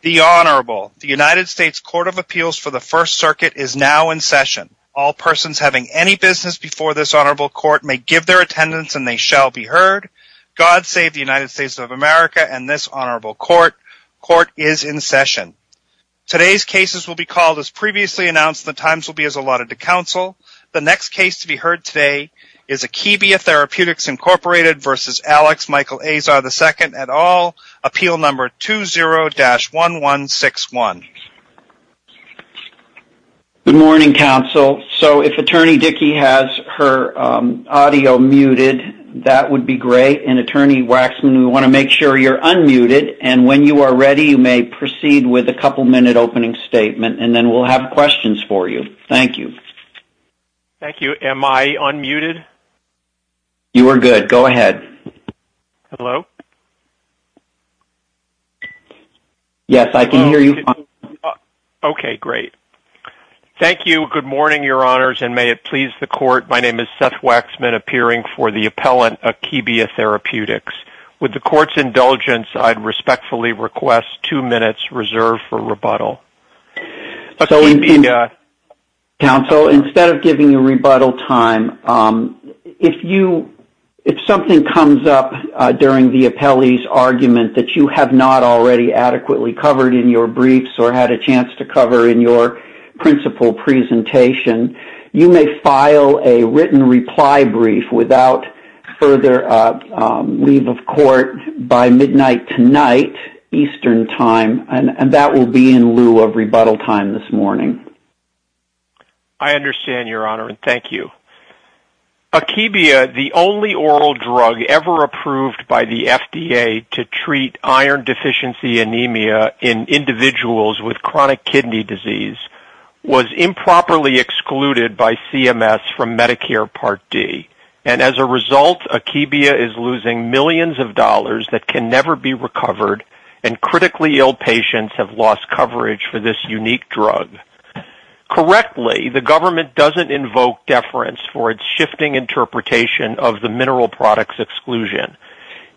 The Honorable, the United States Court of Appeals for the First Circuit is now in session. All persons having any business before this Honorable Court may give their attendance and they shall be heard. God save the United States of America and this Honorable Court. Court is in session. Today's cases will be called as previously announced and the times will be as allotted to counsel. The next case to be heard today is Akebia Therapeutics, Inc. v. Alex Michael Azar II at all, appeal number 20-1161. Good morning, counsel. So if Attorney Dickey has her audio muted, that would be great. And Attorney Waxman, we want to make sure you're unmuted and when you are ready, you may proceed with a couple-minute opening statement and then we'll have questions for you. Thank you. Thank you. Am I unmuted? You are good. Go ahead. Hello? Yes, I can hear you fine. Okay, great. Thank you. Good morning, Your Honors, and may it please the Court. My name is Seth Waxman, appearing for the appellant, Akebia Therapeutics. With the Court's indulgence, I'd respectfully request two minutes reserved for rebuttal. Okay. Counsel, instead of giving you rebuttal time, if you, if something comes up during the appellee's argument that you have not already adequately covered in your briefs or had a chance to cover in your principal presentation, you may file a written reply brief without further leave of court by midnight tonight, Eastern Time, and that will be in lieu of rebuttal time this morning. I understand, Your Honor, and thank you. Akebia, the only oral drug ever approved by the FDA to treat iron deficiency anemia in individuals with chronic kidney disease, was improperly excluded by CMS from Medicare Part D, and as a result, Akebia is losing millions of dollars that can never be recovered, and critically ill patients have lost coverage for this unique drug. Correctly, the government doesn't invoke deference for its shifting interpretation of the mineral product's exclusion.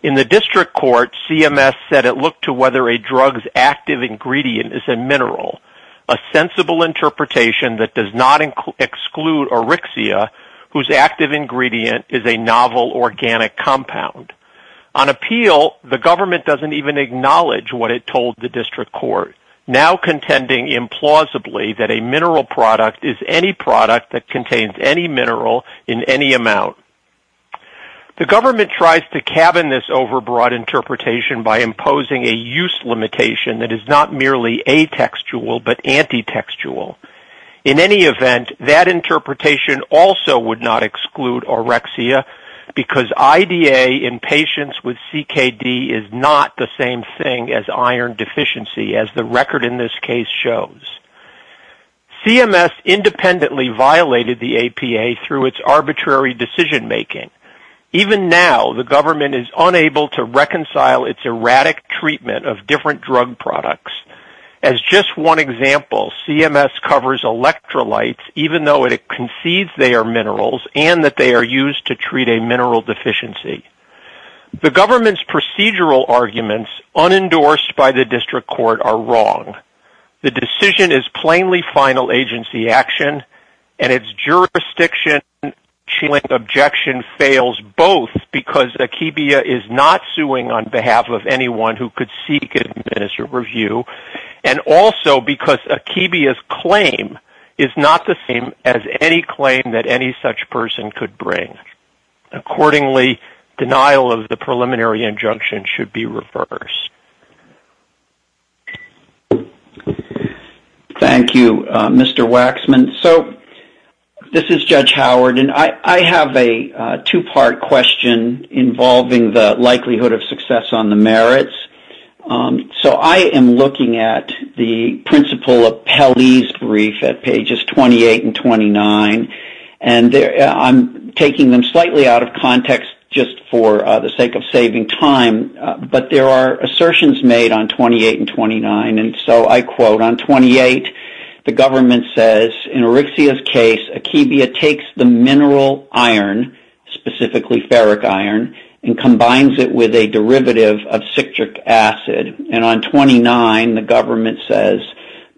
In the district court, CMS said it looked to whether a drug's active ingredient is a mineral, a sensible interpretation that does not exclude arixia, whose active ingredient is a novel organic compound. On appeal, the government doesn't even acknowledge what it told the district court, now contending implausibly that a mineral product is any product that contains any mineral in any amount. The government tries to cabin this overbroad interpretation by imposing a use limitation that is not merely atextual but antitextual. In any event, that interpretation also would not exclude arixia because IDA in patients with CKD is not the same thing as iron deficiency, as the record in this case shows. CMS independently violated the APA through its arbitrary decision-making. Even now, the government is unable to reconcile its erratic treatment of different drug products. As just one example, CMS covers electrolytes even though it concedes they are minerals and that they are used to treat a mineral deficiency. The government's procedural arguments, unendorsed by the district court, are wrong. The decision is plainly final agency action, and its jurisdiction-challenging objection fails both because Akebia is not suing on behalf of anyone who could seek and administer review, and also because Akebia's claim is not the same as any claim that any such person could bring. Accordingly, denial of the preliminary injunction should be reversed. Thank you, Mr. Waxman. This is Judge Howard, and I have a two-part question involving the likelihood of success on the merits. So, I am looking at the principle of Pelley's brief at pages 28 and 29, and I'm taking them slightly out of context just for the sake of saving time, but there are assertions made on 28 and 29, and so I quote, on 28, the government says, in Arixia's case, Akebia takes the mineral acid, and on 29, the government says,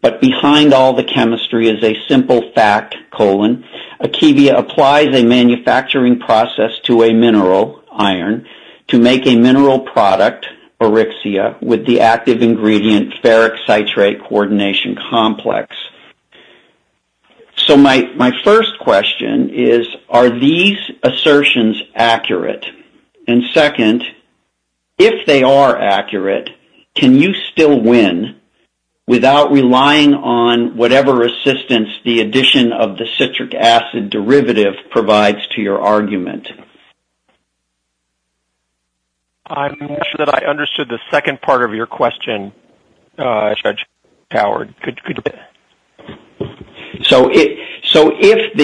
but behind all the chemistry is a simple fact, colon, Akebia applies a manufacturing process to a mineral, iron, to make a mineral product, Arixia, with the active ingredient ferric citrate coordination complex. So my first question is, are these assertions accurate? And second, if they are accurate, can you still win without relying on whatever assistance the addition of the citric acid derivative provides to your argument? I'm not sure that I understood the second part of your question, Judge Howard. So, if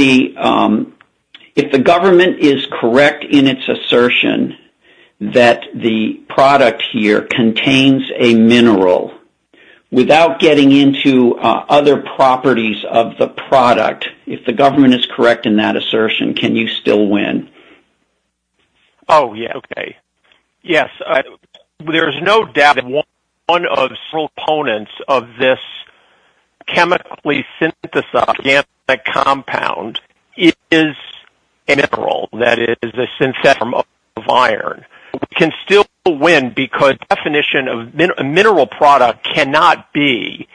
the government is correct in its assertion that the product here contains a mineral without getting into other properties of the product, if the government is correct in that assertion, can you still win? Oh, yes, okay, yes. There is no doubt that one of the components of this chemically synthesized organic compound is a mineral, that it is a synthetic form of iron, but we can still win because the definition of a mineral product cannot be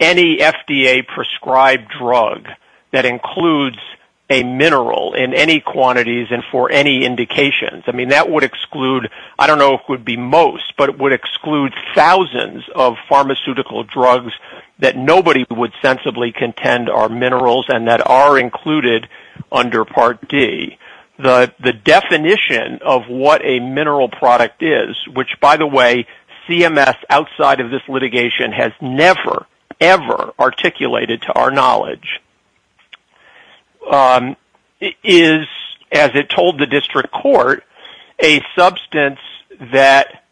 any FDA-prescribed drug that includes a mineral in any quantities and for any indications. I mean, that would exclude, I don't know if it would be most, but it would exclude thousands of pharmaceutical drugs that nobody would sensibly contend are minerals and that are included under Part D. The definition of what a mineral product is, which, by the way, CMS, outside of this litigation, has never, ever articulated to our knowledge, is, as it told the district court, that it is a substance that,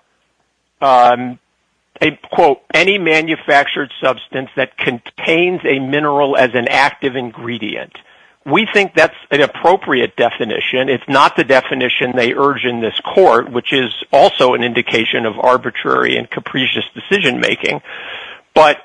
a, quote, any manufactured substance that contains a mineral as an active ingredient. We think that's an appropriate definition, if not the definition they urge in this court, which is also an indication of arbitrary and capricious decision making, but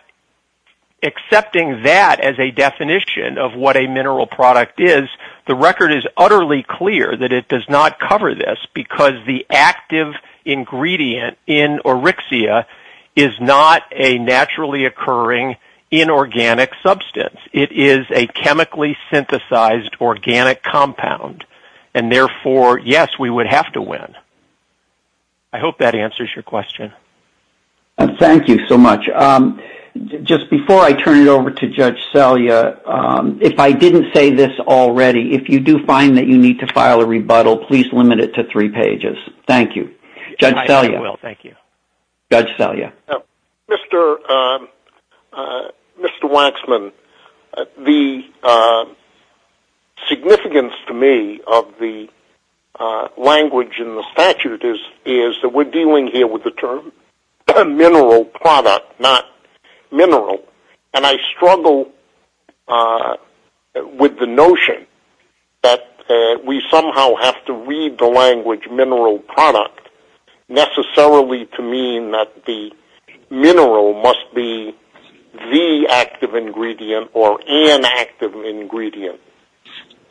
accepting that as a definition of what a mineral product is, the record is utterly clear that it does not cover this because the active ingredient in oryxia is not a naturally occurring inorganic substance. It is a chemically synthesized organic compound, and therefore, yes, we would have to win. I hope that answers your question. Thank you so much. Just before I turn it over to Judge Selya, if I didn't say this already, if you do find that you need to file a rebuttal, please limit it to three pages. Thank you. Judge Selya. I will. Thank you. Judge Selya. Mr. Waxman, the significance to me of the language in the statute is that we're dealing here with the term mineral product, not mineral, and I struggle with the notion that a mineral we somehow have to read the language mineral product necessarily to mean that the mineral must be the active ingredient or an active ingredient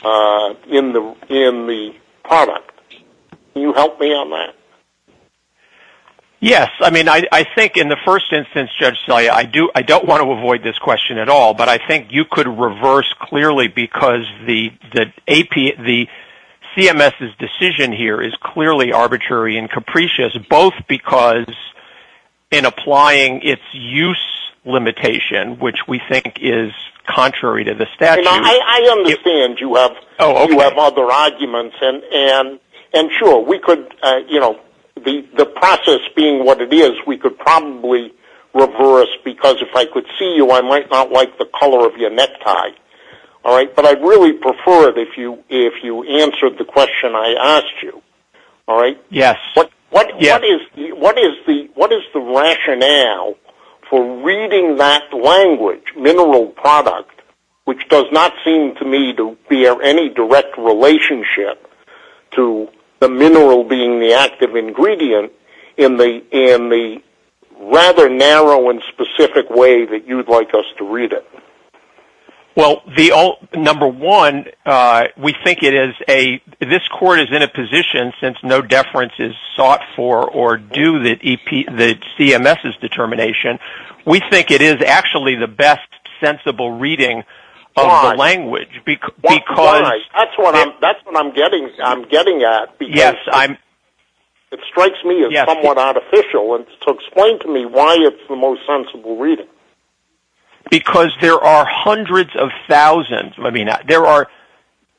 in the product. You help me on that? Yes. I think in the first instance, Judge Selya, I don't want to avoid this question at all, but I think you could reverse clearly because the CMS's decision here is clearly arbitrary and capricious, both because in applying its use limitation, which we think is contrary to the statute. I understand you have other arguments, and sure, the process being what it is, we could probably reverse because if I could see you, I might not like the color of your necktie, but I'd really prefer it if you answered the question I asked you. Yes. What is the rationale for reading that language, mineral product, which does not seem to me to be of any direct relationship to the mineral being the active ingredient in the product rather narrow and specific way that you'd like us to read it? Well, number one, we think it is a, this court is in a position, since no deference is sought for or due to the CMS's determination, we think it is actually the best sensible reading of the language because... That's what I'm getting at because it strikes me as somewhat artificial, and to explain to me why it's the most sensible reading. Because there are hundreds of thousands, I mean, there are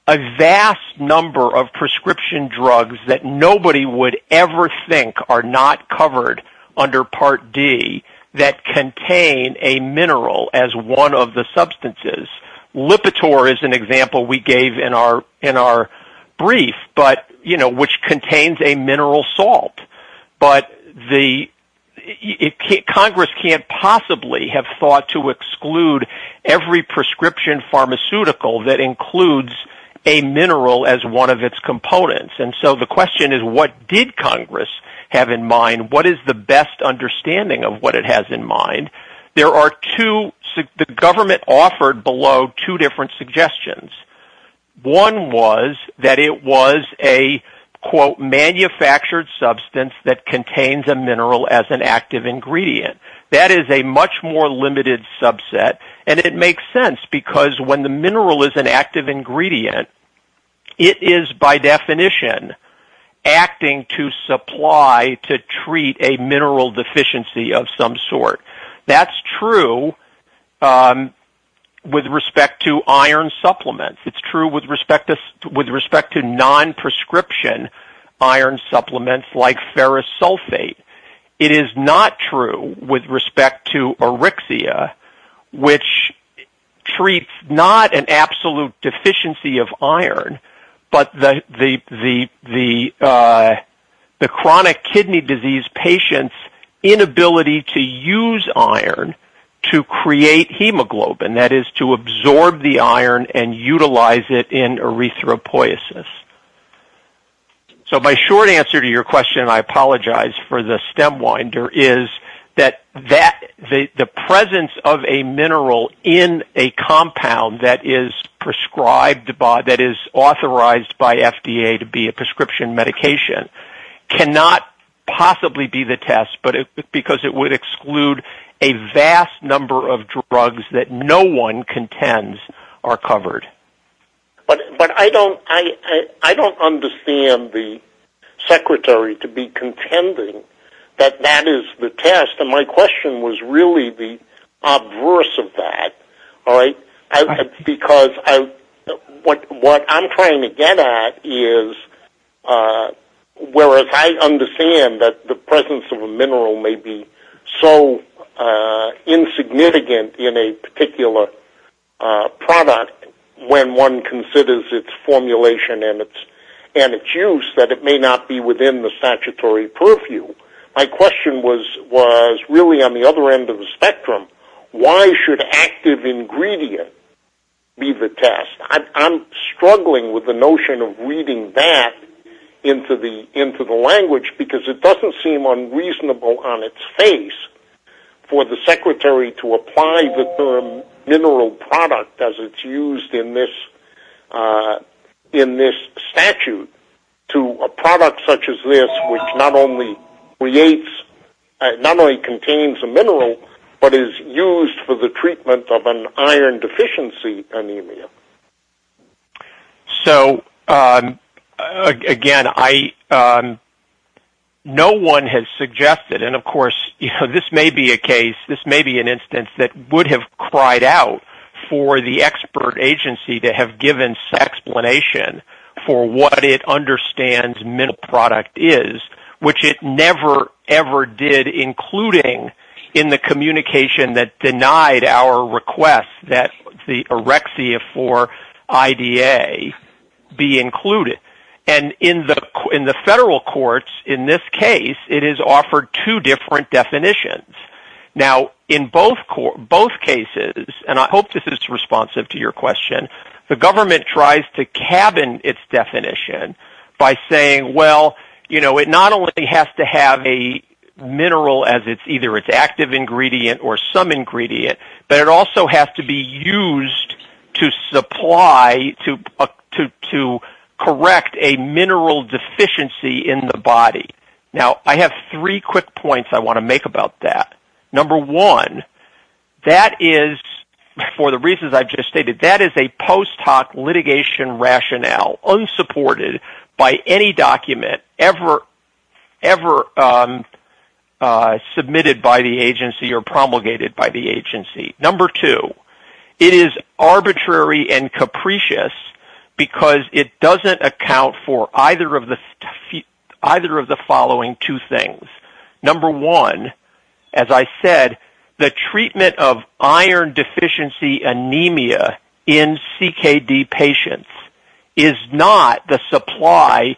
a vast number of prescription drugs that nobody would ever think are not covered under Part D that contain a mineral as one of the substances. Lipitor is an example we gave in our brief, but, you know, which Congress can't possibly have thought to exclude every prescription pharmaceutical that includes a mineral as one of its components. And so the question is, what did Congress have in mind? What is the best understanding of what it has in mind? There are two, the government offered below two different suggestions. One was that it was a, quote, manufactured substance that contains a mineral as an active ingredient. That is a much more limited subset, and it makes sense because when the mineral is an active ingredient, it is by definition acting to supply, to treat a mineral deficiency of some sort. That's true with respect to iron supplements. It's true with respect to non-prescription iron supplements like ferrous sulfate. It is not true with respect to Erixia, which treats not an absolute deficiency of iron, but the chronic kidney disease patient's inability to use iron to create hemoglobin, that is to absorb the iron and utilize it in erythropoiesis. So my short answer to your question, I apologize for the stem winder, is that the presence of a mineral in a compound that is prescribed by, that is authorized by FDA to be a prescription medication cannot possibly be the test because it would exclude a vast number of drugs that no one contends are covered. But I don't understand the secretary to be contending that that is the test, and my question was really the obverse of that, because what I'm trying to get at is, whereas I understand that the presence of a mineral may be so insignificant in a particular product when one considers its formulation and its use that it may not be within the statutory purview, my question was really on the other end of the spectrum, why should active ingredient be the test? I'm struggling with the notion of reading that into the language because it doesn't seem unreasonable on its face for the secretary to apply the term mineral product as it's used in this statute to a product such as this which not only creates, not only contains a mineral, but is used for the treatment of an iron deficiency anemia. So again, no one has suggested, and of course this may be a case, this may be an instance that would have cried out for the expert agency to have given some explanation for what it ever did, including in the communication that denied our request that the orexia for IDA be included. And in the federal courts in this case, it is offered two different definitions. Now in both cases, and I hope this is responsive to your question, the government tries to use a mineral as either its active ingredient or some ingredient, but it also has to be used to supply, to correct a mineral deficiency in the body. Now I have three quick points I want to make about that. Number one, that is, for the reasons I've just stated, that is a post hoc litigation rationale unsupported by any document ever made in the United States submitted by the agency or promulgated by the agency. Number two, it is arbitrary and capricious because it doesn't account for either of the following two things. Number one, as I said, the treatment of iron deficiency anemia in CKD patients is not the supply,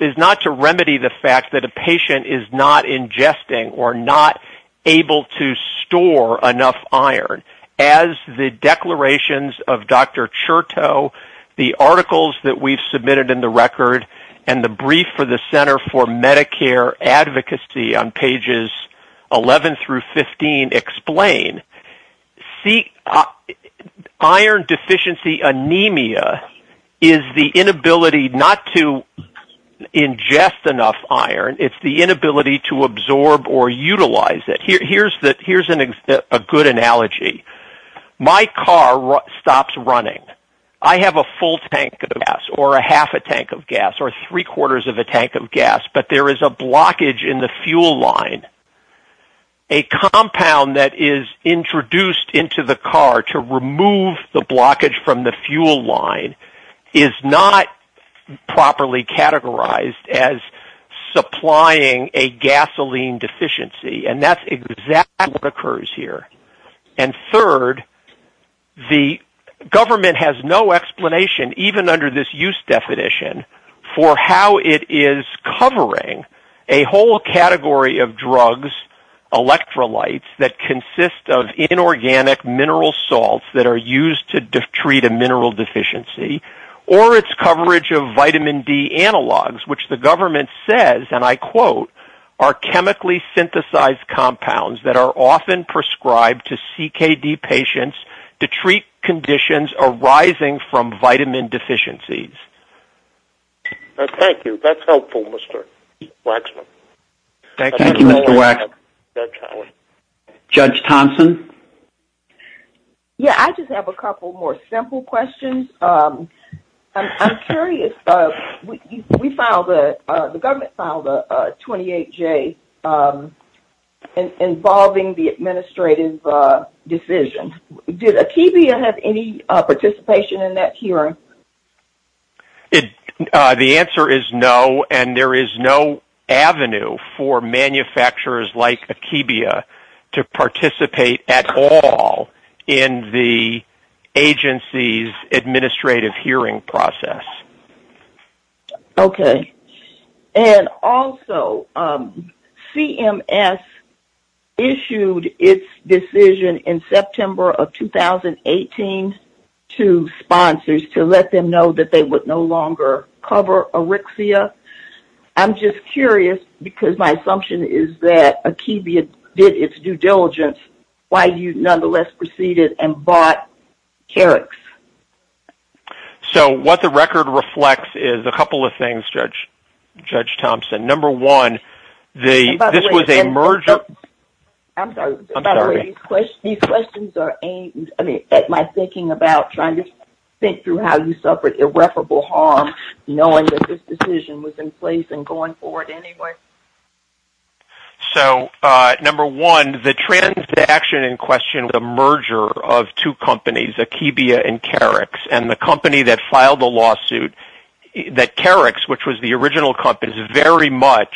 is not to remedy the fact that a patient is not ingesting or not able to store enough iron. As the declarations of Dr. Chertow, the articles that we've submitted in the record and the brief for the Center for Medicare Advocacy on pages 11 through 15 explain, iron not to ingest enough iron, it's the inability to absorb or utilize it. Here's a good analogy. My car stops running. I have a full tank of gas or a half a tank of gas or three quarters of a tank of gas, but there is a blockage in the fuel line. A compound that is introduced into the car to remove the blockage from the fuel line is not properly categorized as supplying a gasoline deficiency and that's exactly what occurs here. Third, the government has no explanation even under this use definition for how it is covering a whole category of organic mineral salts that are used to treat a mineral deficiency or its coverage of vitamin D analogs, which the government says, and I quote, are chemically synthesized compounds that are often prescribed to CKD patients to treat conditions arising from vitamin deficiencies. Thank you. That's helpful, Mr. Waxman. Thank you, Mr. Waxman. Judge Thompson? Yeah, I just have a couple more simple questions. I'm curious, we filed a, the government filed a 28-J involving the administrative decision. Did Akiva have any participation in that hearing? The answer is no, and there is no avenue for manufacturers like Akiva to participate at all in the agency's administrative hearing process. Okay. And also, CMS issued its decision in September of 2018 to sponsors to look at the record and let them know that they would no longer cover Arixia. I'm just curious, because my assumption is that Akiva did its due diligence, why you nonetheless proceeded and bought Carex? So what the record reflects is a couple of things, Judge Thompson. Number one, the, this was a merger- I'm sorry. I'm sorry. I'm sorry. I'm thinking about trying to think through how you suffered irreparable harm knowing that this decision was in place and going forward anyway. So, number one, the transaction in question was a merger of two companies, Akiva and Carex. And the company that filed the lawsuit, that Carex, which was the original company, is very much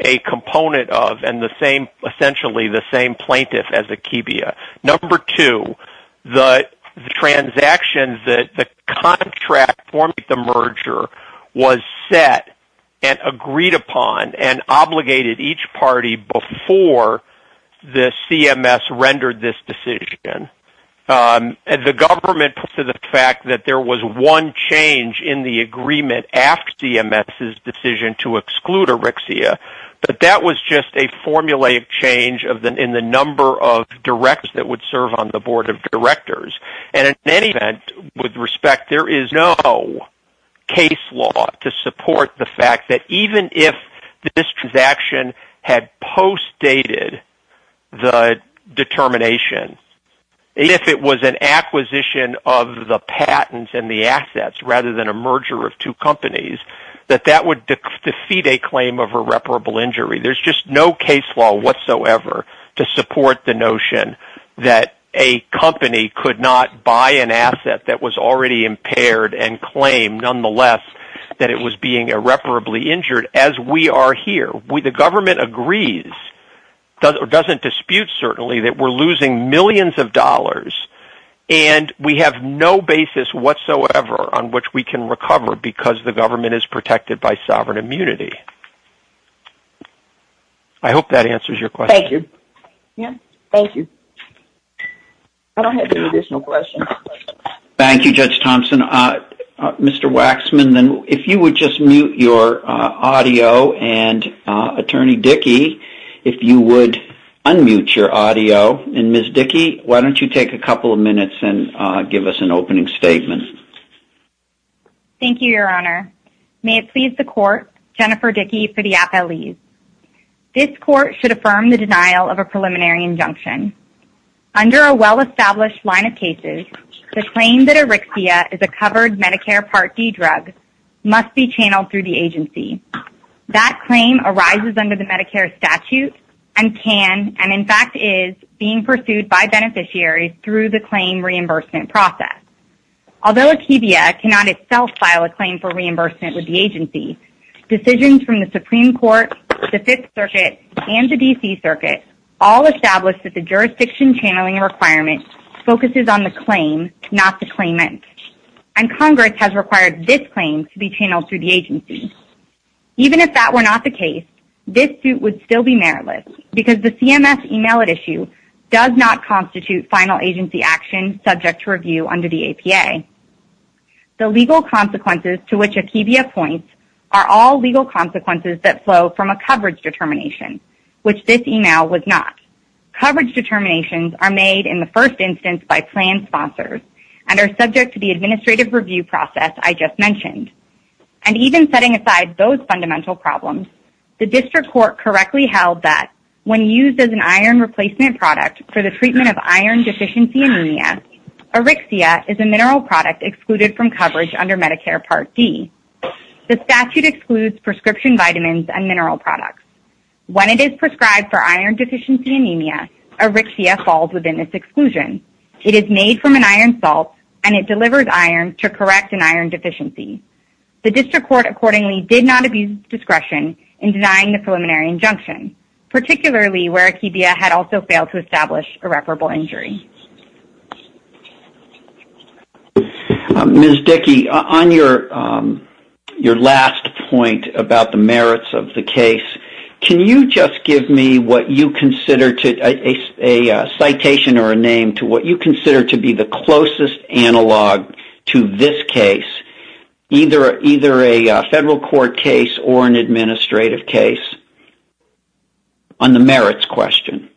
a component of, and the same, essentially the same plaintiff as Akiva. Number two, the transaction, the contract for the merger was set and agreed upon and obligated each party before the CMS rendered this decision. The government put to the fact that there was one change in the agreement after CMS's decision to exclude Arixia, but that was just a formulaic change in the number of direct that would serve on the board of directors. And in any event, with respect, there is no case law to support the fact that even if this transaction had post-dated the determination, if it was an acquisition of the patents and the assets rather than a merger of two companies, that that would defeat a claim of irreparable injury. There's just no case law whatsoever to support the notion that a company could not buy an asset that was already impaired and claim nonetheless that it was being irreparably injured as we are here. The government agrees, doesn't dispute certainly, that we're losing millions of dollars and we have no basis whatsoever on which we can recover because the government is protected by sovereign immunity. I hope that answers your question. Thank you. Yes. Thank you. I don't have any additional questions. Thank you, Judge Thompson. Mr. Waxman, if you would just mute your audio and Attorney Dickey, if you would unmute your audio. And Ms. Dickey, why don't you take a couple of minutes and give us an opening statement. Thank you, Your Honor. May it please the court, Jennifer Dickey for the appellees. This court should affirm the denial of a preliminary injunction. Under a well-established line of cases, the claim that Erixia is a covered Medicare Part D drug must be channeled through the agency. That claim arises under the Medicare statute and can and in fact is being pursued by beneficiaries through the claim reimbursement process. Although Akebia cannot itself file a claim for reimbursement with the agency, decisions from the Supreme Court, the Fifth Circuit, and the D.C. Circuit all establish that the jurisdiction channeling requirement focuses on the claim, not the claimant. And Congress has required this claim to be channeled through the agency. Even if that were not the case, this suit would still be meritless because the CMS email does not constitute final agency action subject to review under the APA. The legal consequences to which Akebia points are all legal consequences that flow from a coverage determination, which this email was not. Coverage determinations are made in the first instance by planned sponsors and are subject to the administrative review process I just mentioned. And even setting aside those fundamental problems, the district court correctly held that when used as an iron replacement product for the treatment of iron deficiency anemia, Erixia is a mineral product excluded from coverage under Medicare Part D. The statute excludes prescription vitamins and mineral products. When it is prescribed for iron deficiency anemia, Erixia falls within this exclusion. It is made from an iron salt and it delivers iron to correct an iron deficiency. The district court accordingly did not abuse discretion in denying the preliminary injunction, particularly where Akebia had also failed to establish irreparable injury. Mr. Dickey, on your last point about the merits of the case, can you just give me what you consider a citation or a name to what you consider to be the closest analog to this case, either a federal court case or an administrative case? On the merits question.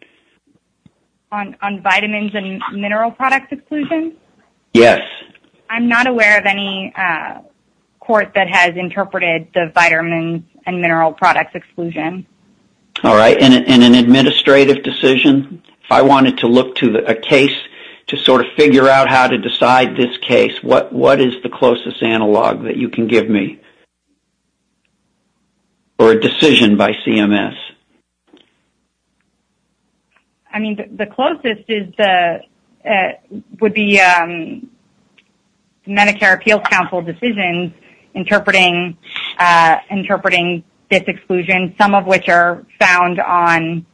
On vitamins and mineral products exclusion? Yes. I'm not aware of any court that has interpreted the vitamins and mineral products exclusion. All right. And an administrative decision? If I wanted to look to a case to sort of figure out how to decide this case, what is the closest analog that you can give me? Or a decision by CMS? I mean, the closest would be Medicare Appeals Council decisions interpreting this exclusion, some of which are found on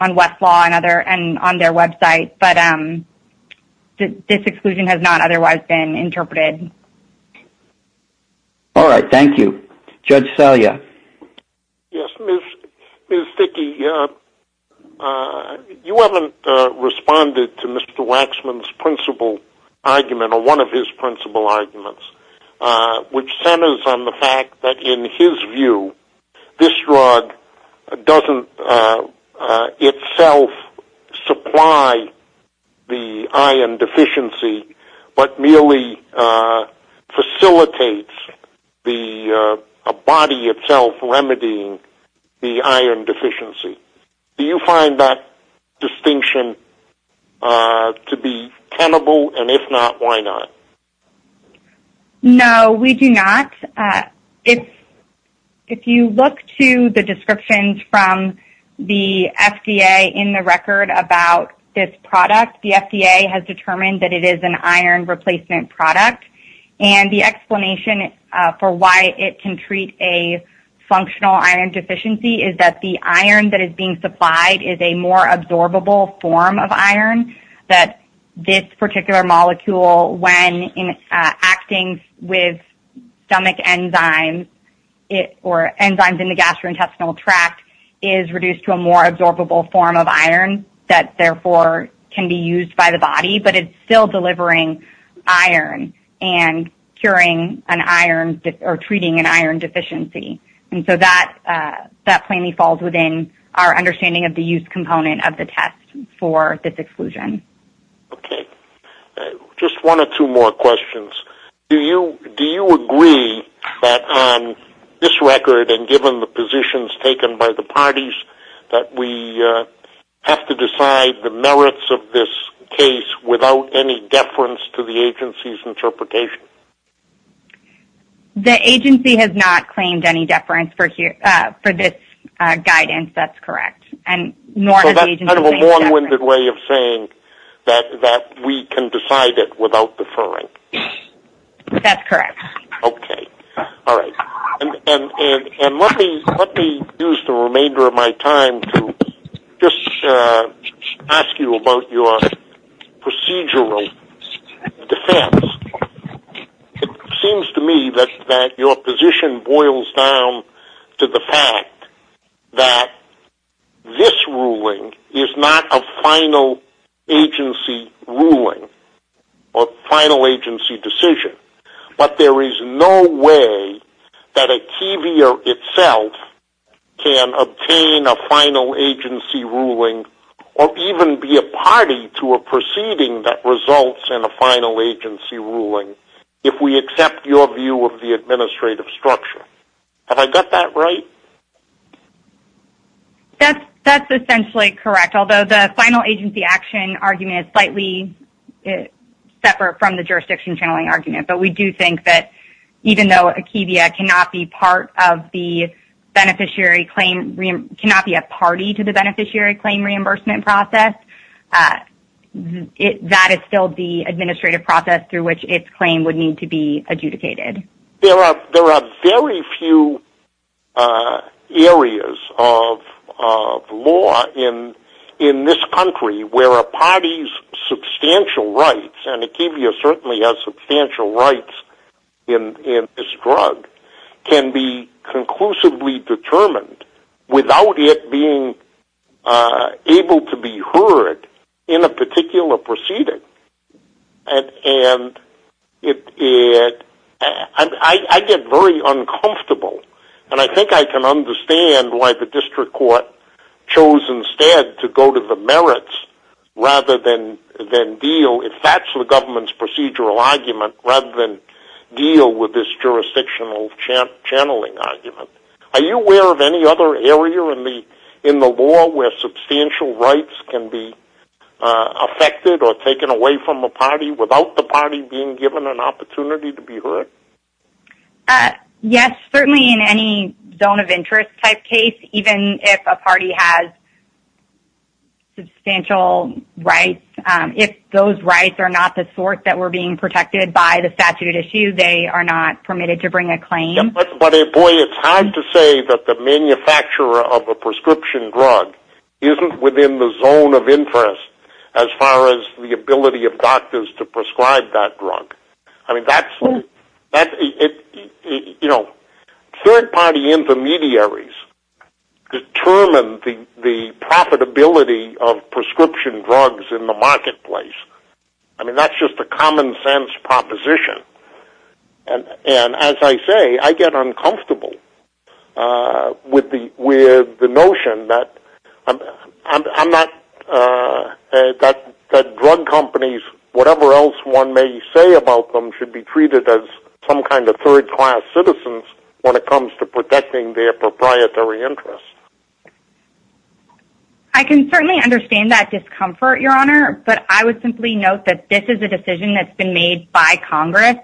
Westlaw and on their website, but this exclusion has not otherwise been interpreted. All right. Thank you. Judge Salia? Yes. Ms. Dickey, you haven't responded to Mr. Waxman's principal argument or one of his principal arguments, which centers on the fact that in his view, this drug doesn't itself supply the iron deficiency, but merely facilitates a body itself remedying the iron deficiency. Do you find that distinction to be tenable? And if not, why not? No, we do not. If you look to the descriptions from the FDA in the record about this product, the FDA has determined that it is an iron replacement product, and the explanation for why it can treat a functional iron deficiency is that the iron that is being supplied is a more absorbable form of iron. The iron that is being supplied by the body to the enzymes in the gastrointestinal tract is reduced to a more absorbable form of iron that, therefore, can be used by the body, but it's still delivering iron and curing an iron, or treating an iron deficiency. And so that plainly falls within our understanding of the use component of the test for this exclusion. Okay. Just one or two more questions. Do you agree that on this record, and given the positions taken by the parties, that we have to decide the merits of this case without any deference to the agency's interpretation? The agency has not claimed any deference for this guidance. That's correct. So that's kind of a long-winded way of saying that we can decide it without deferring. That's correct. Okay. All right. And let me use the remainder of my time to just ask you about your procedural defense. It seems to me that your position boils down to the fact that this ruling is not a final agency ruling or final agency decision, but there is no way that a TVer itself can obtain a final agency ruling or even be a party to a proceeding that results in a final agency ruling if we accept your view of the administrative structure. Have I got that right? That's essentially correct. Although the final agency action argument is slightly separate from the jurisdiction channeling argument. But we do think that even though a TVer cannot be a party to the beneficiary claim reimbursement process, that is still the administrative process through which its claim would need to be adjudicated. There are very few areas of law in this country where a party's substantial rights and a TVer certainly has substantial rights in this drug can be conclusively determined without it being able to be heard in a particular proceeding. And I get very uncomfortable, and I think I can understand why the district court chose instead to go to the merits rather than deal, if that's the government's procedural argument, rather than deal with this jurisdictional channeling argument. Are you aware of any other area in the law where substantial rights can be affected or taken away from a party without the party being given an opportunity to be heard? Yes, certainly in any zone of interest type case, even if a party has substantial rights. If those rights are not the sort that were being protected by the statute at issue, they are not permitted to bring a claim. But boy, it's hard to say that the manufacturer of a prescription drug isn't within the zone of interest as far as the ability of doctors to prescribe that drug. Third party intermediaries determine the profitability of prescription drugs in the marketplace. That's just a common sense proposition. And as I say, I get uncomfortable with the notion that drug companies, whatever else one may say about them, should be treated as some kind of third class citizens when it comes to protecting their proprietary interests. I can certainly understand that discomfort, Your Honor, but I would simply note that this is a decision that's been made by Congress.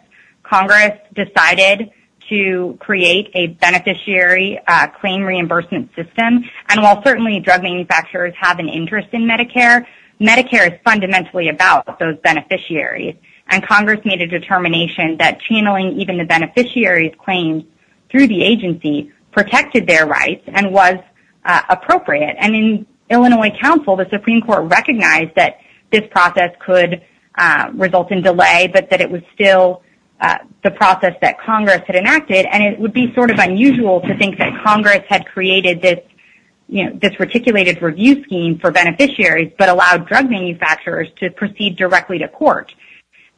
Congress decided to create a beneficiary claim reimbursement system. And while certainly drug manufacturers have an interest in Medicare, Medicare is fundamentally about those beneficiaries. And Congress made a determination that channeling even the beneficiary's claims through the agency protected their rights and was appropriate. And in Illinois Council, the Supreme Court recognized that this process could result in delay, but that it was still the process that Congress had enacted. And it would be sort of unusual to think that Congress had created this, you know, this reticulated review scheme for beneficiaries, but allowed drug manufacturers to proceed directly to court.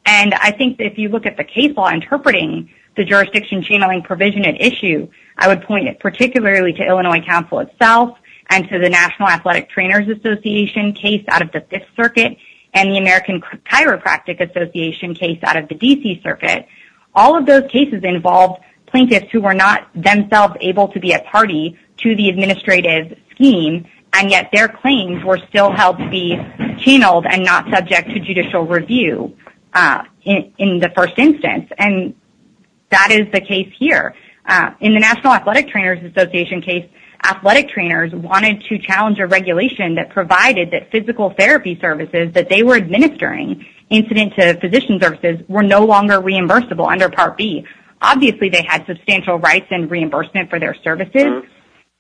And I think if you look at the case law interpreting the jurisdiction channeling provision at issue, I would point it particularly to Illinois Council itself and to the National Athletic Trainers Association case out of the Fifth Circuit and the American Chiropractic Association case out of the D.C. Circuit. All of those cases involved plaintiffs who were not themselves able to be a party to the administrative scheme, and yet their claims were still held to be channeled and not subject to judicial review in the first instance. And that is the case here. In the National Athletic Trainers Association case, athletic trainers wanted to challenge a regulation that provided that physical therapy services that they were administering, incident to physician services, were no longer reimbursable under Part B. Obviously, they had substantial rights and reimbursement for their services,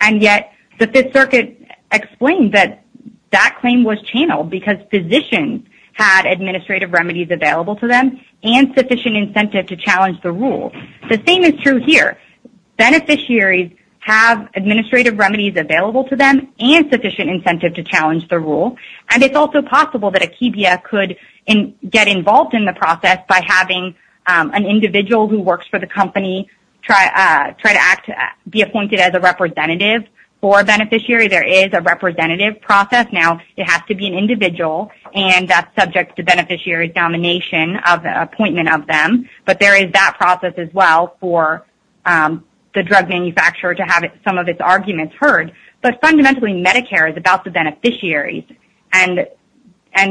and yet the Fifth Circuit explained that that claim was channeled because physicians had administrative remedies available to them and sufficient incentive to challenge the rule. The same is true here. Beneficiaries have administrative remedies available to them and sufficient incentive to challenge the rule, and it's also possible that a KBF could get involved in the process by having an individual who works for the company try to act, be appointed as a representative for a beneficiary. There is a representative process now. It has to be an individual, and that's subject to beneficiary domination of the process as well for the drug manufacturer to have some of its arguments heard. But fundamentally, Medicare is about the beneficiaries, and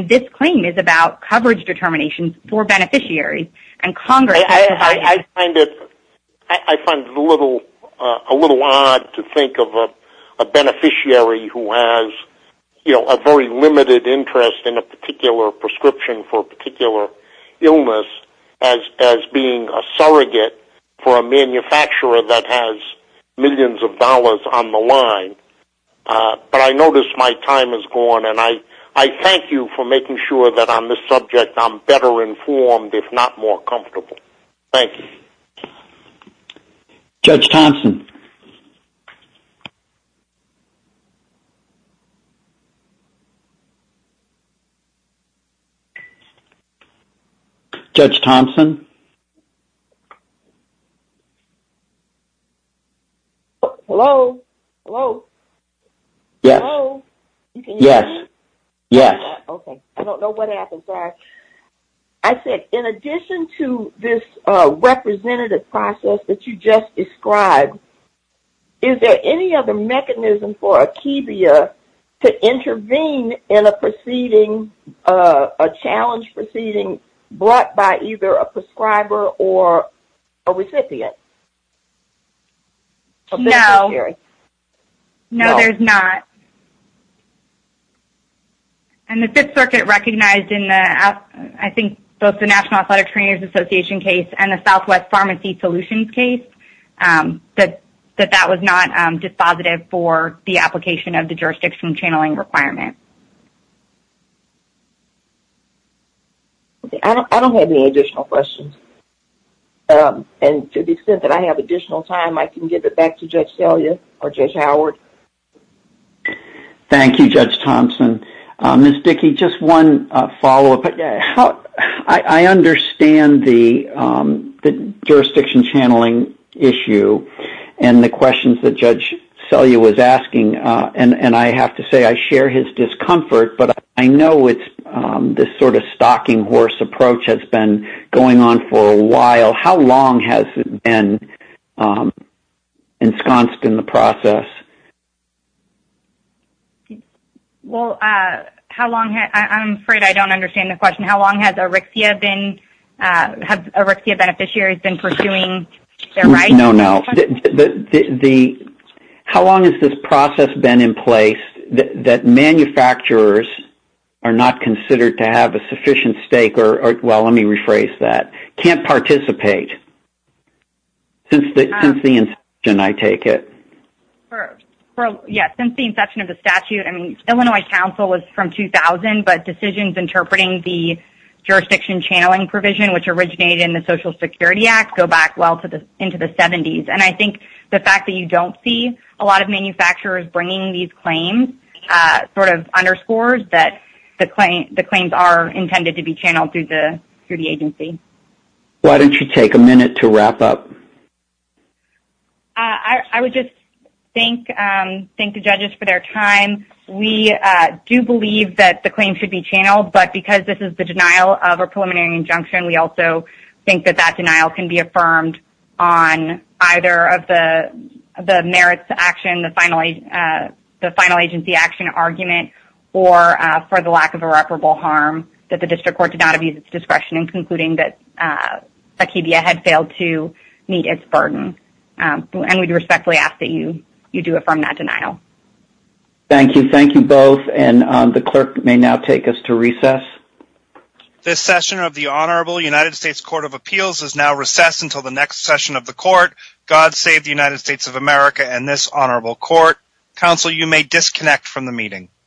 this claim is about coverage determination for beneficiaries. I find it a little odd to think of a beneficiary who has a very limited interest in a particular prescription for a particular illness as being a surrogate for a manufacturer that has millions of dollars on the line, but I notice my time has gone, and I thank you for making sure that on this subject I'm better informed, if not more comfortable. Thank you. Judge Thompson? Hello? Hello? Hello? Yes. Yes. Yes. Okay. I don't know what happened. Sorry. I said, in addition to this representative process that you just described, is there any other mechanism for a KBF to intervene in a proceeding, a drug-related process that is a challenge proceeding brought by either a prescriber or a recipient? A beneficiary? No, there's not. And the Fifth Circuit recognized in the, I think, both the National Athletic Trainers Association case and the Southwest Pharmacy Solutions case that that was not dispositive for the application of the jurisdiction channeling requirement. Okay. I don't have any additional questions, and to the extent that I have additional time, I can give it back to Judge Selya or Judge Howard. Thank you, Judge Thompson. Ms. Dickey, just one follow-up. I understand the jurisdiction channeling issue and the questions that Judge Selya was asking, and I have to say I share his discomfort, but I know it's this sort of stocking horse approach has been going on for a while. How long has it been ensconced in the process? Well, how long has, I'm afraid I don't understand the question. How long has Erixia been, have Erixia beneficiaries been pursuing their rights? No, no. The, how long has this process been in place that manufacturers are not considered to have a sufficient stake or, well, let me rephrase that, can't participate since the inception, I take it? Yes, since the inception of the statute. I mean, Illinois Council was from 2000, but decisions interpreting the jurisdiction channeling which originated in the Social Security Act go back well into the 70s. And I think the fact that you don't see a lot of manufacturers bringing these claims sort of underscores that the claims are intended to be channeled through the agency. Why don't you take a minute to wrap up? I would just thank the judges for their time. We do believe that the claims should be channeled, but because this is the denial of a preliminary injunction, we also think that that denial can be affirmed on either of the merits to action, the final agency action argument, or for the lack of irreparable harm that the district court did not abuse its discretion in concluding that Zakibia had failed to meet its burden. And we respectfully ask that you do affirm that denial. Thank you. And the clerk may now take us to recess. This session of the Honorable United States Court of Appeals is now recessed until the next session of the court. God save the United States of America and this honorable court. Counsel, you may disconnect from the meeting.